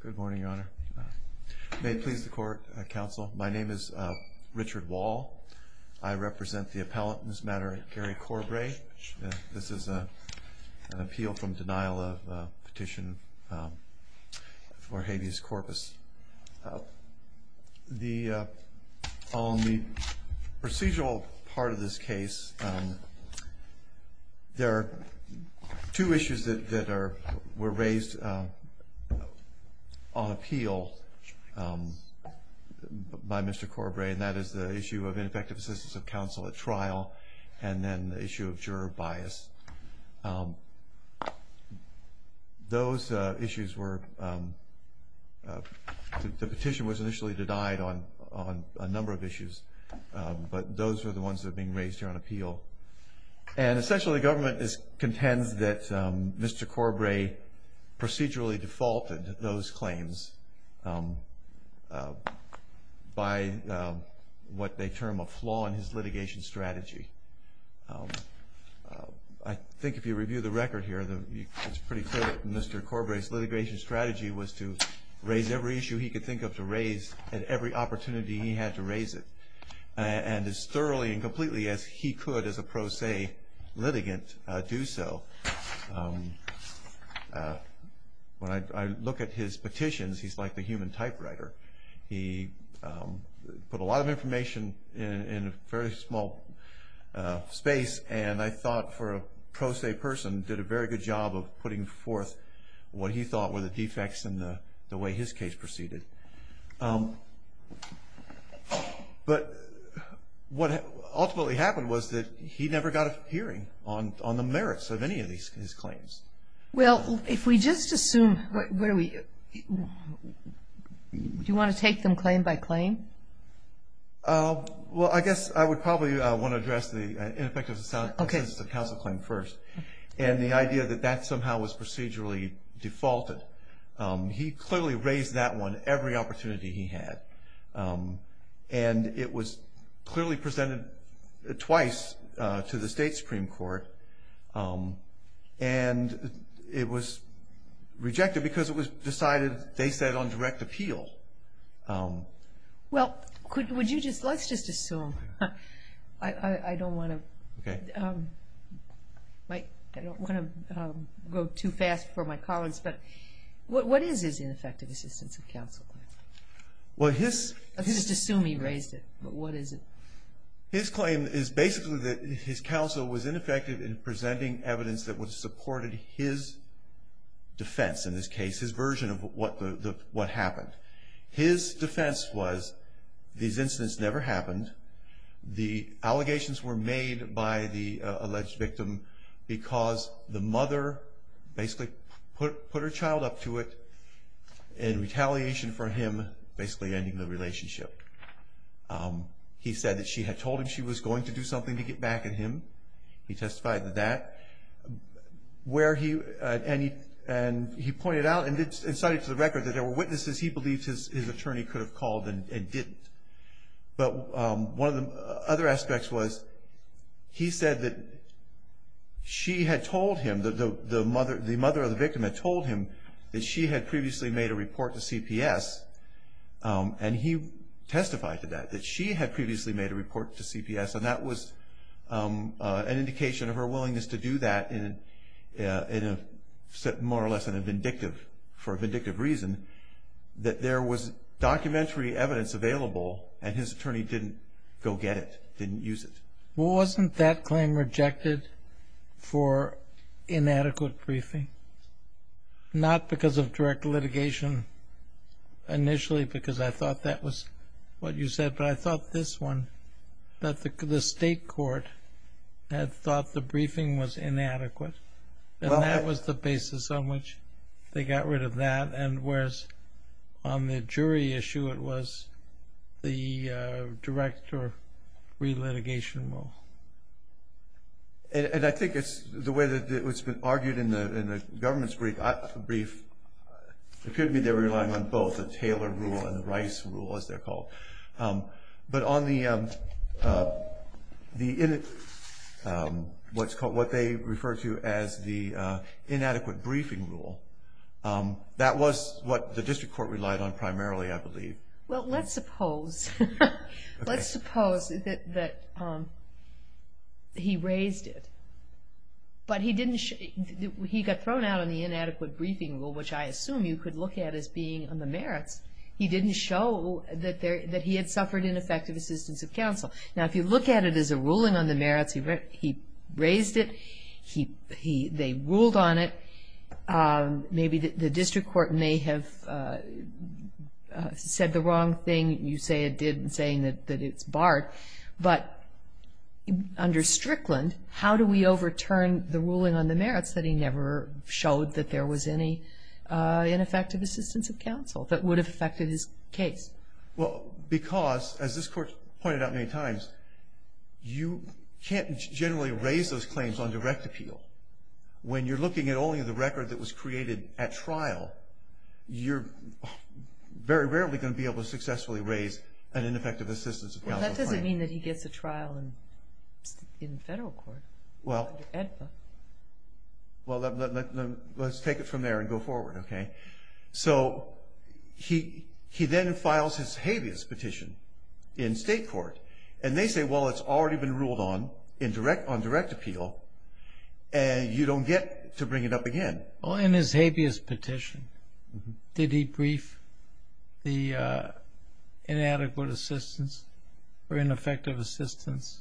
Good morning, Your Honor. May it please the Court, Counsel. My name is Richard Wall. I represent the appellant in this matter, Gary Corbray. This is an appeal from denial of petition for habeas corpus. On the procedural part of this case, there are two issues that were raised on appeal by Mr. Corbray, and that is the issue of ineffective assistance of counsel at trial and then the issue of juror bias. Those issues were, the petition was initially denied on a number of issues, but those were the ones that are being raised here on appeal. And essentially government contends that Mr. Corbray procedurally defaulted those claims by what they term a flaw in his litigation strategy. I think if you review the record here, it's pretty clear that Mr. Corbray's litigation strategy was to raise every issue he could think of to raise at every opportunity he had to raise it. And as thoroughly and completely as he could as a pro se litigant do so. When I look at his petitions, he's like the human typewriter. He put a lot of information in a very small space, and I thought for a pro se person, did a very good job of putting forth what he thought were the defects in the way his case proceeded. But what ultimately happened was that he never got a hearing on the merits of any of his claims. Well, if we just assume, do you want to take them claim by claim? Well, I guess I would probably want to address the ineffective assistance of counsel claim first. And the idea that that somehow was procedurally defaulted. He clearly raised that one every opportunity he had. And it was clearly presented twice to the state Supreme Court. And it was rejected because it was decided, they said, on direct appeal. Well, let's just assume, I don't want to go too fast for my colleagues, but what is his ineffective assistance of counsel claim? Let's just assume he raised it, but what is it? His claim is basically that his counsel was ineffective in presenting evidence that would have supported his defense in this case, his version of what happened. His defense was these incidents never happened. The allegations were made by the alleged victim because the mother basically put her child up to it in retaliation for him basically ending the relationship. He said that she had told him she was going to do something to get back at him. He testified to that. And he pointed out and cited to the record that there were witnesses he believed his attorney could have called and didn't. But one of the other aspects was he said that she had told him, the mother of the victim had told him, that she had previously made a report to CPS. And he testified to that, that she had previously made a report to CPS. And that was an indication of her willingness to do that in a more or less vindictive, for a vindictive reason, that there was documentary evidence available and his attorney didn't go get it, didn't use it. Well, wasn't that claim rejected for inadequate briefing? Not because of direct litigation initially because I thought that was what you said, but I thought this one, that the state court had thought the briefing was inadequate. And that was the basis on which they got rid of that. And whereas on the jury issue it was the direct or re-litigation rule. And I think it's the way that it's been argued in the government's brief, it could be they're relying on both, the Taylor rule and the Rice rule, as they're called. But on the, what they refer to as the inadequate briefing rule, that was what the district court relied on primarily, I believe. Well, let's suppose, let's suppose that he raised it. But he didn't, he got thrown out on the inadequate briefing rule, which I assume you could look at as being on the merits. He didn't show that he had suffered ineffective assistance of counsel. Now, if you look at it as a ruling on the merits, he raised it. They ruled on it. Maybe the district court may have said the wrong thing. You say it did in saying that it's barred. But under Strickland, how do we overturn the ruling on the merits that he never showed that there was any ineffective assistance of counsel that would have affected his case? Well, because, as this court pointed out many times, you can't generally raise those claims on direct appeal. When you're looking at only the record that was created at trial, you're very rarely going to be able to successfully raise an ineffective assistance of counsel claim. Well, that doesn't mean that he gets a trial in federal court, under AEDPA. Well, let's take it from there and go forward, okay? So, he then files his habeas petition in state court. And they say, well, it's already been ruled on, on direct appeal, and you don't get to bring it up again. Well, in his habeas petition, did he brief the inadequate assistance or ineffective assistance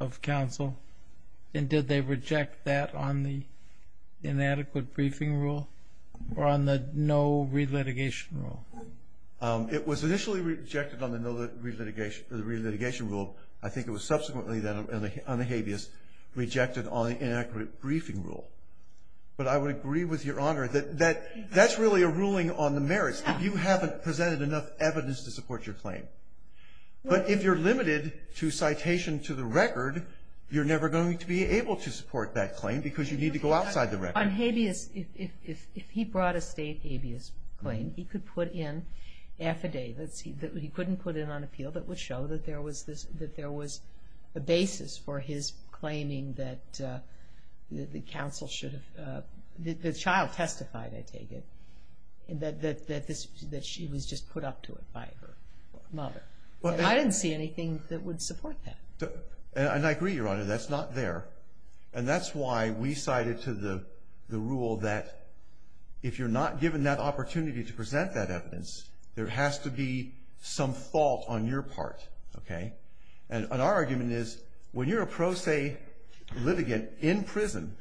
of counsel? And did they reject that on the inadequate briefing rule or on the no relitigation rule? It was initially rejected on the no relitigation rule. I think it was subsequently, then, on the habeas, rejected on the inaccurate briefing rule. But I would agree with Your Honor that that's really a ruling on the merits if you haven't presented enough evidence to support your claim. But if you're limited to citation to the record, you're never going to be able to support that claim because you need to go outside the record. On habeas, if he brought a state habeas claim, he could put in affidavits that he couldn't put in on appeal that would show that there was a basis for his claiming that the counsel should have, the child testified, I take it, that she was just put up to it by her mother. I didn't see anything that would support that. And I agree, Your Honor, that's not there. And that's why we cited to the rule that if you're not given that opportunity to present that evidence, there has to be some fault on your part, okay? And our argument is when you're a pro se litigant in prison,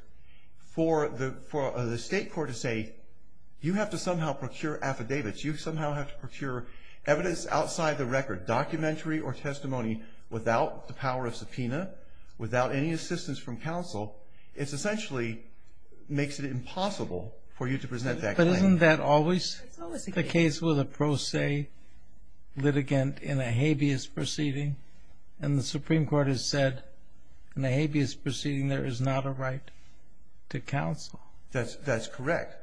for the state court to say you have to somehow procure affidavits, you somehow have to procure evidence outside the record, documentary or testimony, without the power of subpoena, without any assistance from counsel, it essentially makes it impossible for you to present that claim. Isn't that always the case with a pro se litigant in a habeas proceeding? And the Supreme Court has said in a habeas proceeding there is not a right to counsel. That's correct.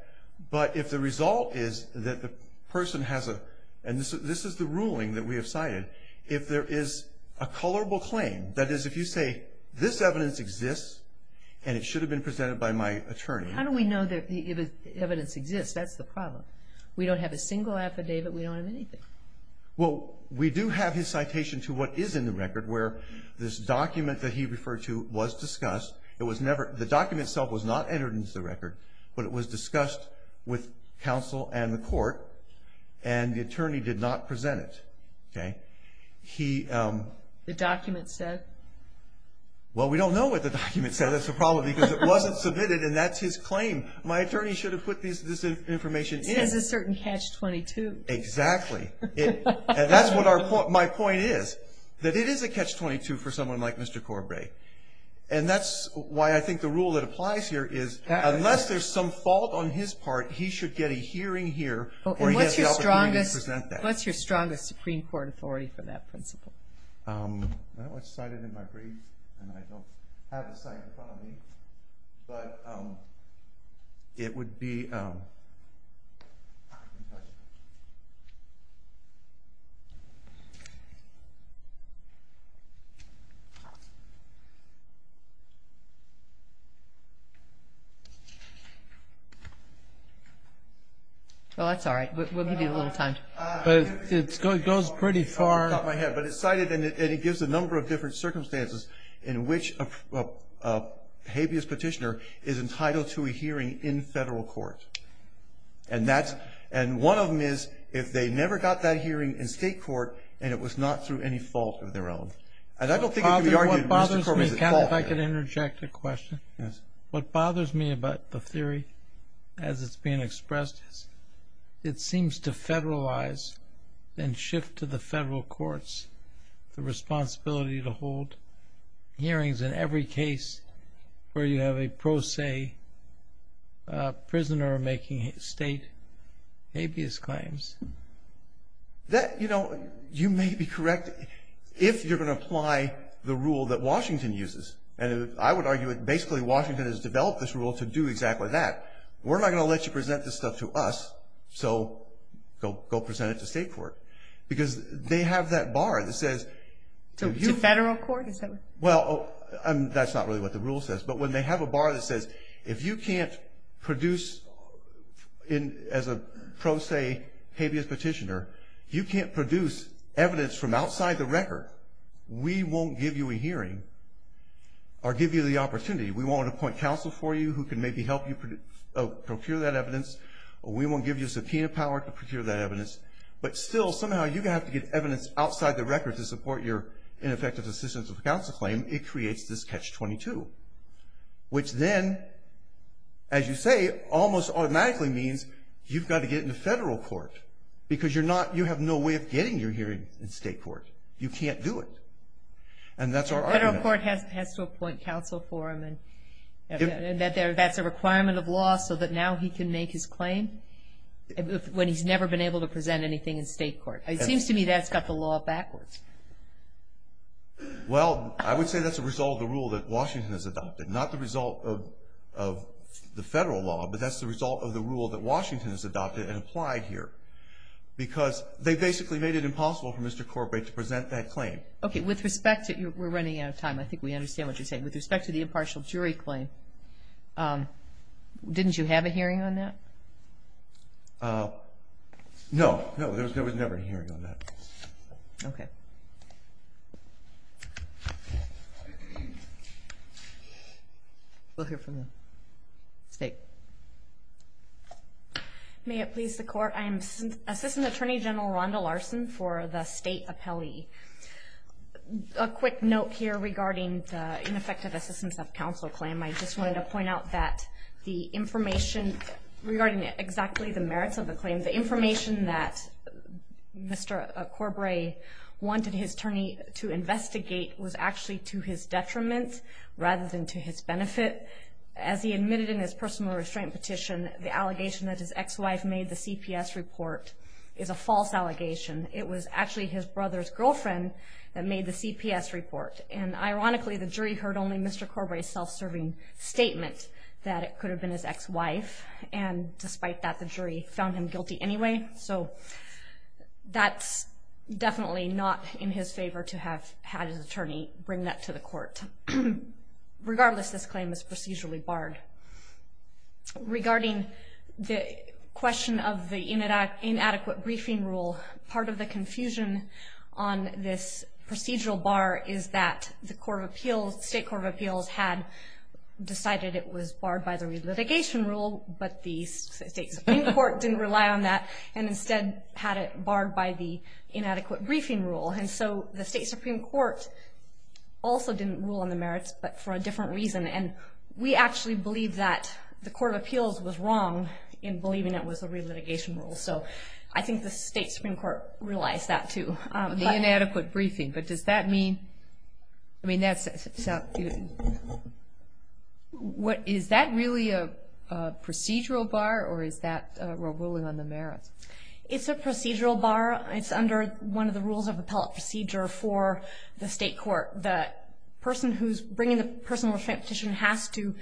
But if the result is that the person has a, and this is the ruling that we have cited, if there is a colorable claim, that is if you say this evidence exists and it should have been presented by my attorney. How do we know that the evidence exists? That's the problem. We don't have a single affidavit. We don't have anything. Well, we do have his citation to what is in the record where this document that he referred to was discussed. The document itself was not entered into the record, but it was discussed with counsel and the court, and the attorney did not present it, okay? The document said? Well, we don't know what the document said. That's the problem because it wasn't submitted, and that's his claim. My attorney should have put this information in. It says a certain catch-22. Exactly. And that's what my point is, that it is a catch-22 for someone like Mr. Corbray. And that's why I think the rule that applies here is unless there's some fault on his part, he should get a hearing here or he has the opportunity to present that. What's your strongest Supreme Court authority for that principle? I don't have it cited in my brief, and I don't have a cite in front of me, but it would be... Well, that's all right. We'll give you a little time. It goes pretty far. But it's cited, and it gives a number of different circumstances in which a habeas petitioner is entitled to a hearing in federal court. And one of them is if they never got that hearing in state court and it was not through any fault of their own. And I don't think it can be argued Mr. Corbray's at fault here. What bothers me, Ken, if I could interject a question. Yes. What bothers me about the theory as it's being expressed is it seems to federalize and shift to the federal courts the responsibility to hold hearings in every case where you have a pro se prisoner making state habeas claims. You know, you may be correct if you're going to apply the rule that Washington uses. And I would argue that basically Washington has developed this rule to do exactly that. We're not going to let you present this stuff to us, so go present it to state court. Because they have that bar that says... To federal court? Well, that's not really what the rule says. But when they have a bar that says if you can't produce as a pro se habeas petitioner, you can't produce evidence from outside the record, we won't give you a hearing or give you the opportunity. We won't appoint counsel for you who can maybe help you procure that evidence. We won't give you subpoena power to procure that evidence. But still, somehow you're going to have to get evidence outside the record to support your ineffective assistance with a counsel claim. It creates this catch-22, which then, as you say, almost automatically means you've got to get into federal court. Because you have no way of getting your hearing in state court. You can't do it. And that's our argument. State court has to appoint counsel for him, and that's a requirement of law so that now he can make his claim when he's never been able to present anything in state court. It seems to me that's got the law backwards. Well, I would say that's a result of the rule that Washington has adopted. Not the result of the federal law, but that's the result of the rule that Washington has adopted and applied here. Because they basically made it impossible for Mr. Corbett to present that claim. Okay. We're running out of time. I think we understand what you're saying. With respect to the impartial jury claim, didn't you have a hearing on that? No. No, there was never a hearing on that. Okay. We'll hear from the State. May it please the Court, I am Assistant Attorney General Rhonda Larson for the State Appellee. A quick note here regarding the ineffective assistance of counsel claim. I just wanted to point out that the information regarding exactly the merits of the claim, the information that Mr. Corbett wanted his attorney to investigate was actually to his detriment rather than to his benefit. As he admitted in his personal restraint petition, the allegation that his ex-wife made the CPS report is a false allegation. It was actually his brother's girlfriend that made the CPS report. And ironically, the jury heard only Mr. Corbett's self-serving statement that it could have been his ex-wife. And despite that, the jury found him guilty anyway. So that's definitely not in his favor to have had his attorney bring that to the court. Regardless, this claim is procedurally barred. Regarding the question of the inadequate briefing rule, part of the confusion on this procedural bar is that the State Court of Appeals had decided it was barred by the relitigation rule, but the State Supreme Court didn't rely on that and instead had it barred by the inadequate briefing rule. And so the State Supreme Court also didn't rule on the merits, but for a different reason. And we actually believe that the Court of Appeals was wrong in believing it was the relitigation rule. So I think the State Supreme Court realized that, too. The inadequate briefing, but does that mean—I mean, that's— is that really a procedural bar, or is that a ruling on the merits? It's a procedural bar. It's under one of the rules of appellate procedure for the State Court. The person who's bringing the personal restraint petition has to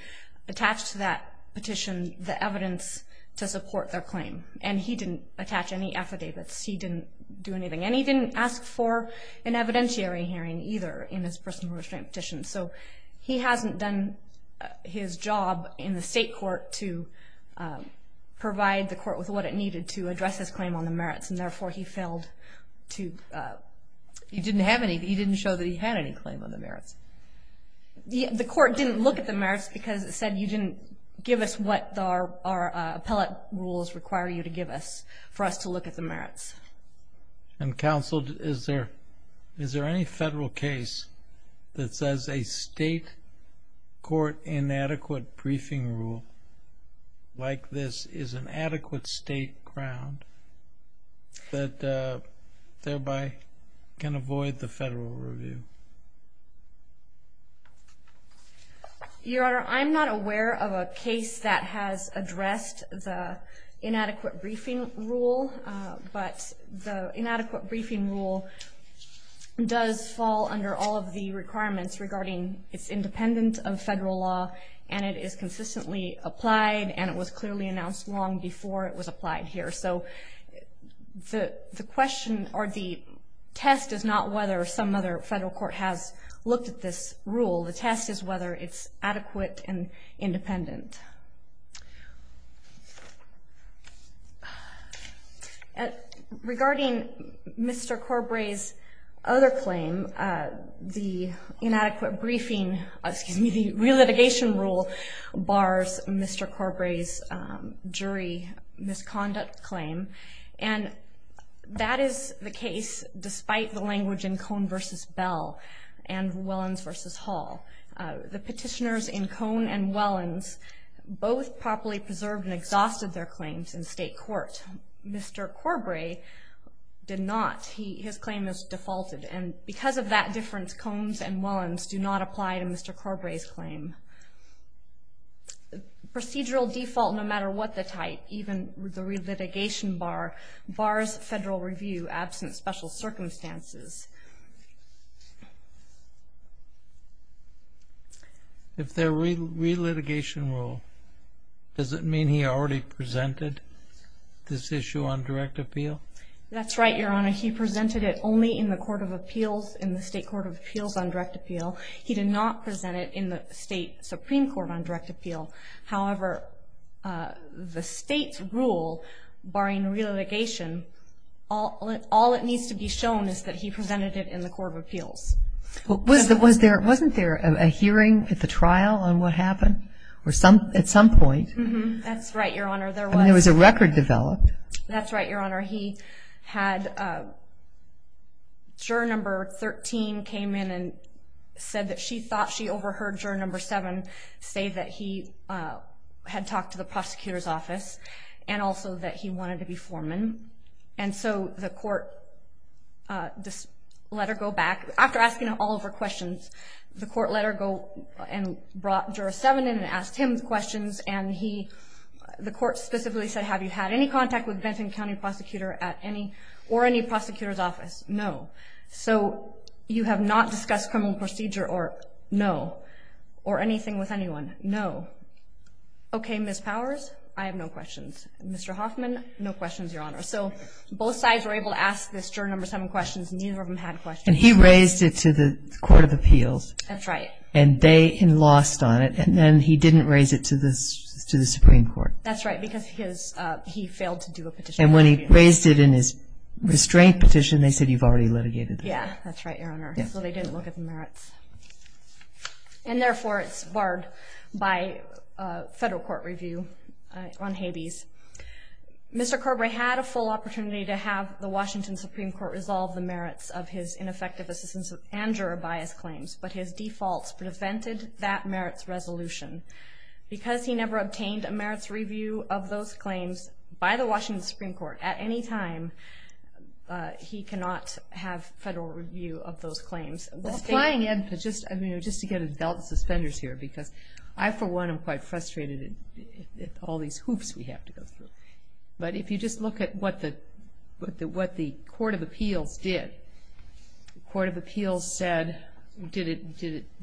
attach to that petition the evidence to support their claim. And he didn't attach any affidavits. He didn't do anything. And he didn't ask for an evidentiary hearing, either, in his personal restraint petition. So he hasn't done his job in the state court to provide the court with what it needed to address his claim on the merits, and therefore he failed to— The court didn't look at the merits because it said you didn't give us what our appellate rules require you to give us for us to look at the merits. And counsel, is there any federal case that says a state court inadequate briefing rule like this is an adequate state ground that thereby can avoid the federal review? Your Honor, I'm not aware of a case that has addressed the inadequate briefing rule, but the inadequate briefing rule does fall under all of the requirements regarding it's independent of federal law and it is consistently applied and it was clearly announced long before it was applied here. So the question or the test is not whether some other federal court has looked at this rule. The test is whether it's adequate and independent. Regarding Mr. Corbray's other claim, the inadequate briefing— excuse me, the relitigation rule bars Mr. Corbray's jury misconduct claim and that is the case despite the language in Cohn v. Bell and Wellens v. Hall. The petitioners in Cohn and Wellens both properly preserved and exhausted their claims in state court. Mr. Corbray did not. His claim is defaulted and because of that difference, Cohns and Wellens do not apply to Mr. Corbray's claim. Procedural default no matter what the type, even with the relitigation bar, bars federal review absent special circumstances. If they're relitigation rule, does it mean he already presented this issue on direct appeal? That's right, Your Honor. He presented it only in the court of appeals, in the state court of appeals on direct appeal. He did not present it in the state supreme court on direct appeal. However, the state's rule barring relitigation, all that needs to be shown is that he presented it in the court of appeals. Wasn't there a hearing at the trial on what happened at some point? That's right, Your Honor. There was a record developed. That's right, Your Honor. He had juror number 13 came in and said that she thought she overheard juror number 7 say that he had talked to the prosecutor's office and also that he wanted to be foreman. And so the court let her go back. After asking all of her questions, the court let her go and brought juror 7 in and asked him questions. And the court specifically said, have you had any contact with Benton County prosecutor or any prosecutor's office? No. So you have not discussed criminal procedure or no, or anything with anyone? No. Okay, Ms. Powers, I have no questions. Mr. Hoffman, no questions, Your Honor. So both sides were able to ask this juror number 7 questions, and neither of them had questions. And he raised it to the court of appeals. That's right. And they lost on it, and then he didn't raise it to the supreme court. That's right, because he failed to do a petition. And when he raised it in his restraint petition, they said you've already litigated it. Yeah, that's right, Your Honor. So they didn't look at the merits. And therefore, it's barred by federal court review on Habeas. Mr. Corbray had a full opportunity to have the Washington Supreme Court resolve the merits of his ineffective assistance and juror bias claims, but his defaults prevented that merits resolution. Because he never obtained a merits review of those claims by the Washington Supreme Court at any time, he cannot have federal review of those claims. Well, flying in, just to get a belt of suspenders here, because I, for one, am quite frustrated at all these hoops we have to go through. But if you just look at what the court of appeals did, the court of appeals said, did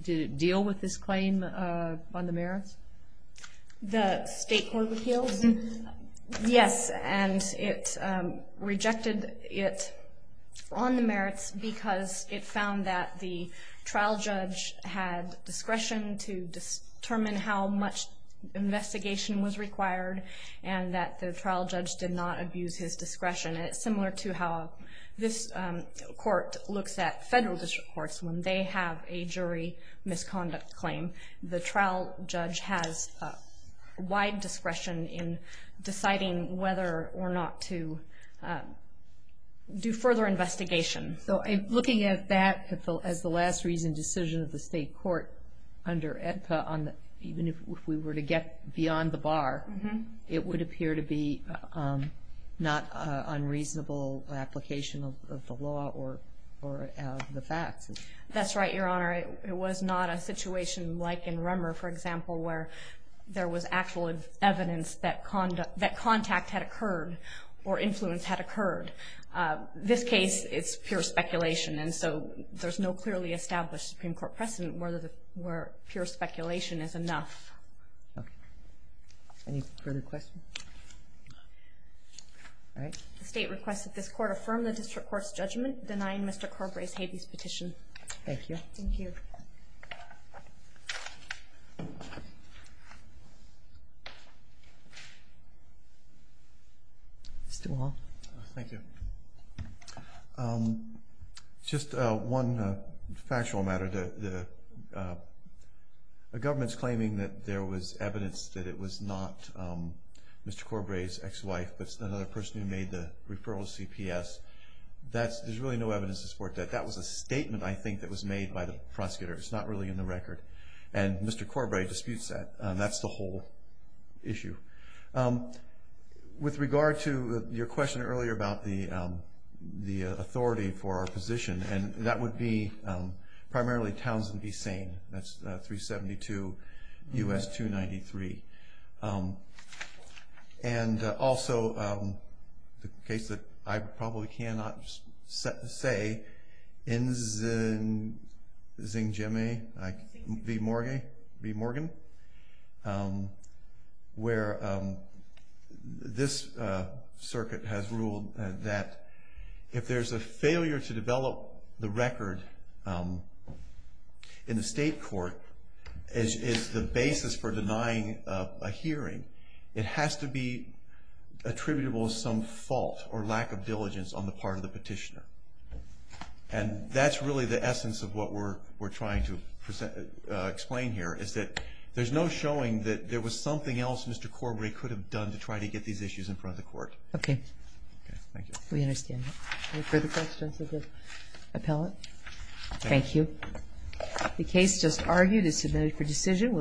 it deal with this claim on the merits? The state court of appeals? Yes, and it rejected it on the merits because it found that the trial judge had discretion to determine how much investigation was required and that the trial judge did not abuse his discretion. And it's similar to how this court looks at federal district courts when they have a jury misconduct claim. The trial judge has wide discretion in deciding whether or not to do further investigation. So looking at that as the last reason decision of the state court under AEDPA, even if we were to get beyond the bar, it would appear to be not an unreasonable application of the law or of the facts. That's right, Your Honor. It was not a situation like in Rummer, for example, where there was actual evidence that contact had occurred or influence had occurred. This case, it's pure speculation. And so there's no clearly established Supreme Court precedent where pure speculation is enough. Okay. Any further questions? All right. The state requests that this court affirm the district court's judgment denying Mr. Corbray's habeas petition. Thank you. Thank you. Mr. Wall. Thank you. Just one factual matter. The government's claiming that there was evidence that it was not Mr. Corbray's ex-wife, but another person who made the referral to CPS. There's really no evidence to support that. That was a statement, I think, that was made by the prosecutor. It's not really in the record. And Mr. Corbray disputes that. That's the whole issue. With regard to your question earlier about the authority for our position, and that would be primarily Townsend v. Sain. That's 372 U.S. 293. And also the case that I probably cannot say, Nzinghime v. Morgan, where this circuit has ruled that if there's a failure to develop the record in the state court, it's the basis for denying a hearing, it has to be attributable to some fault or lack of diligence on the part of the petitioner. And that's really the essence of what we're trying to explain here, is that there's no showing that there was something else Mr. Corbray could have done to try to get these issues in front of the court. Okay. Thank you. We understand that. Any further questions of the appellate? Thank you. The case just argued is submitted for decision.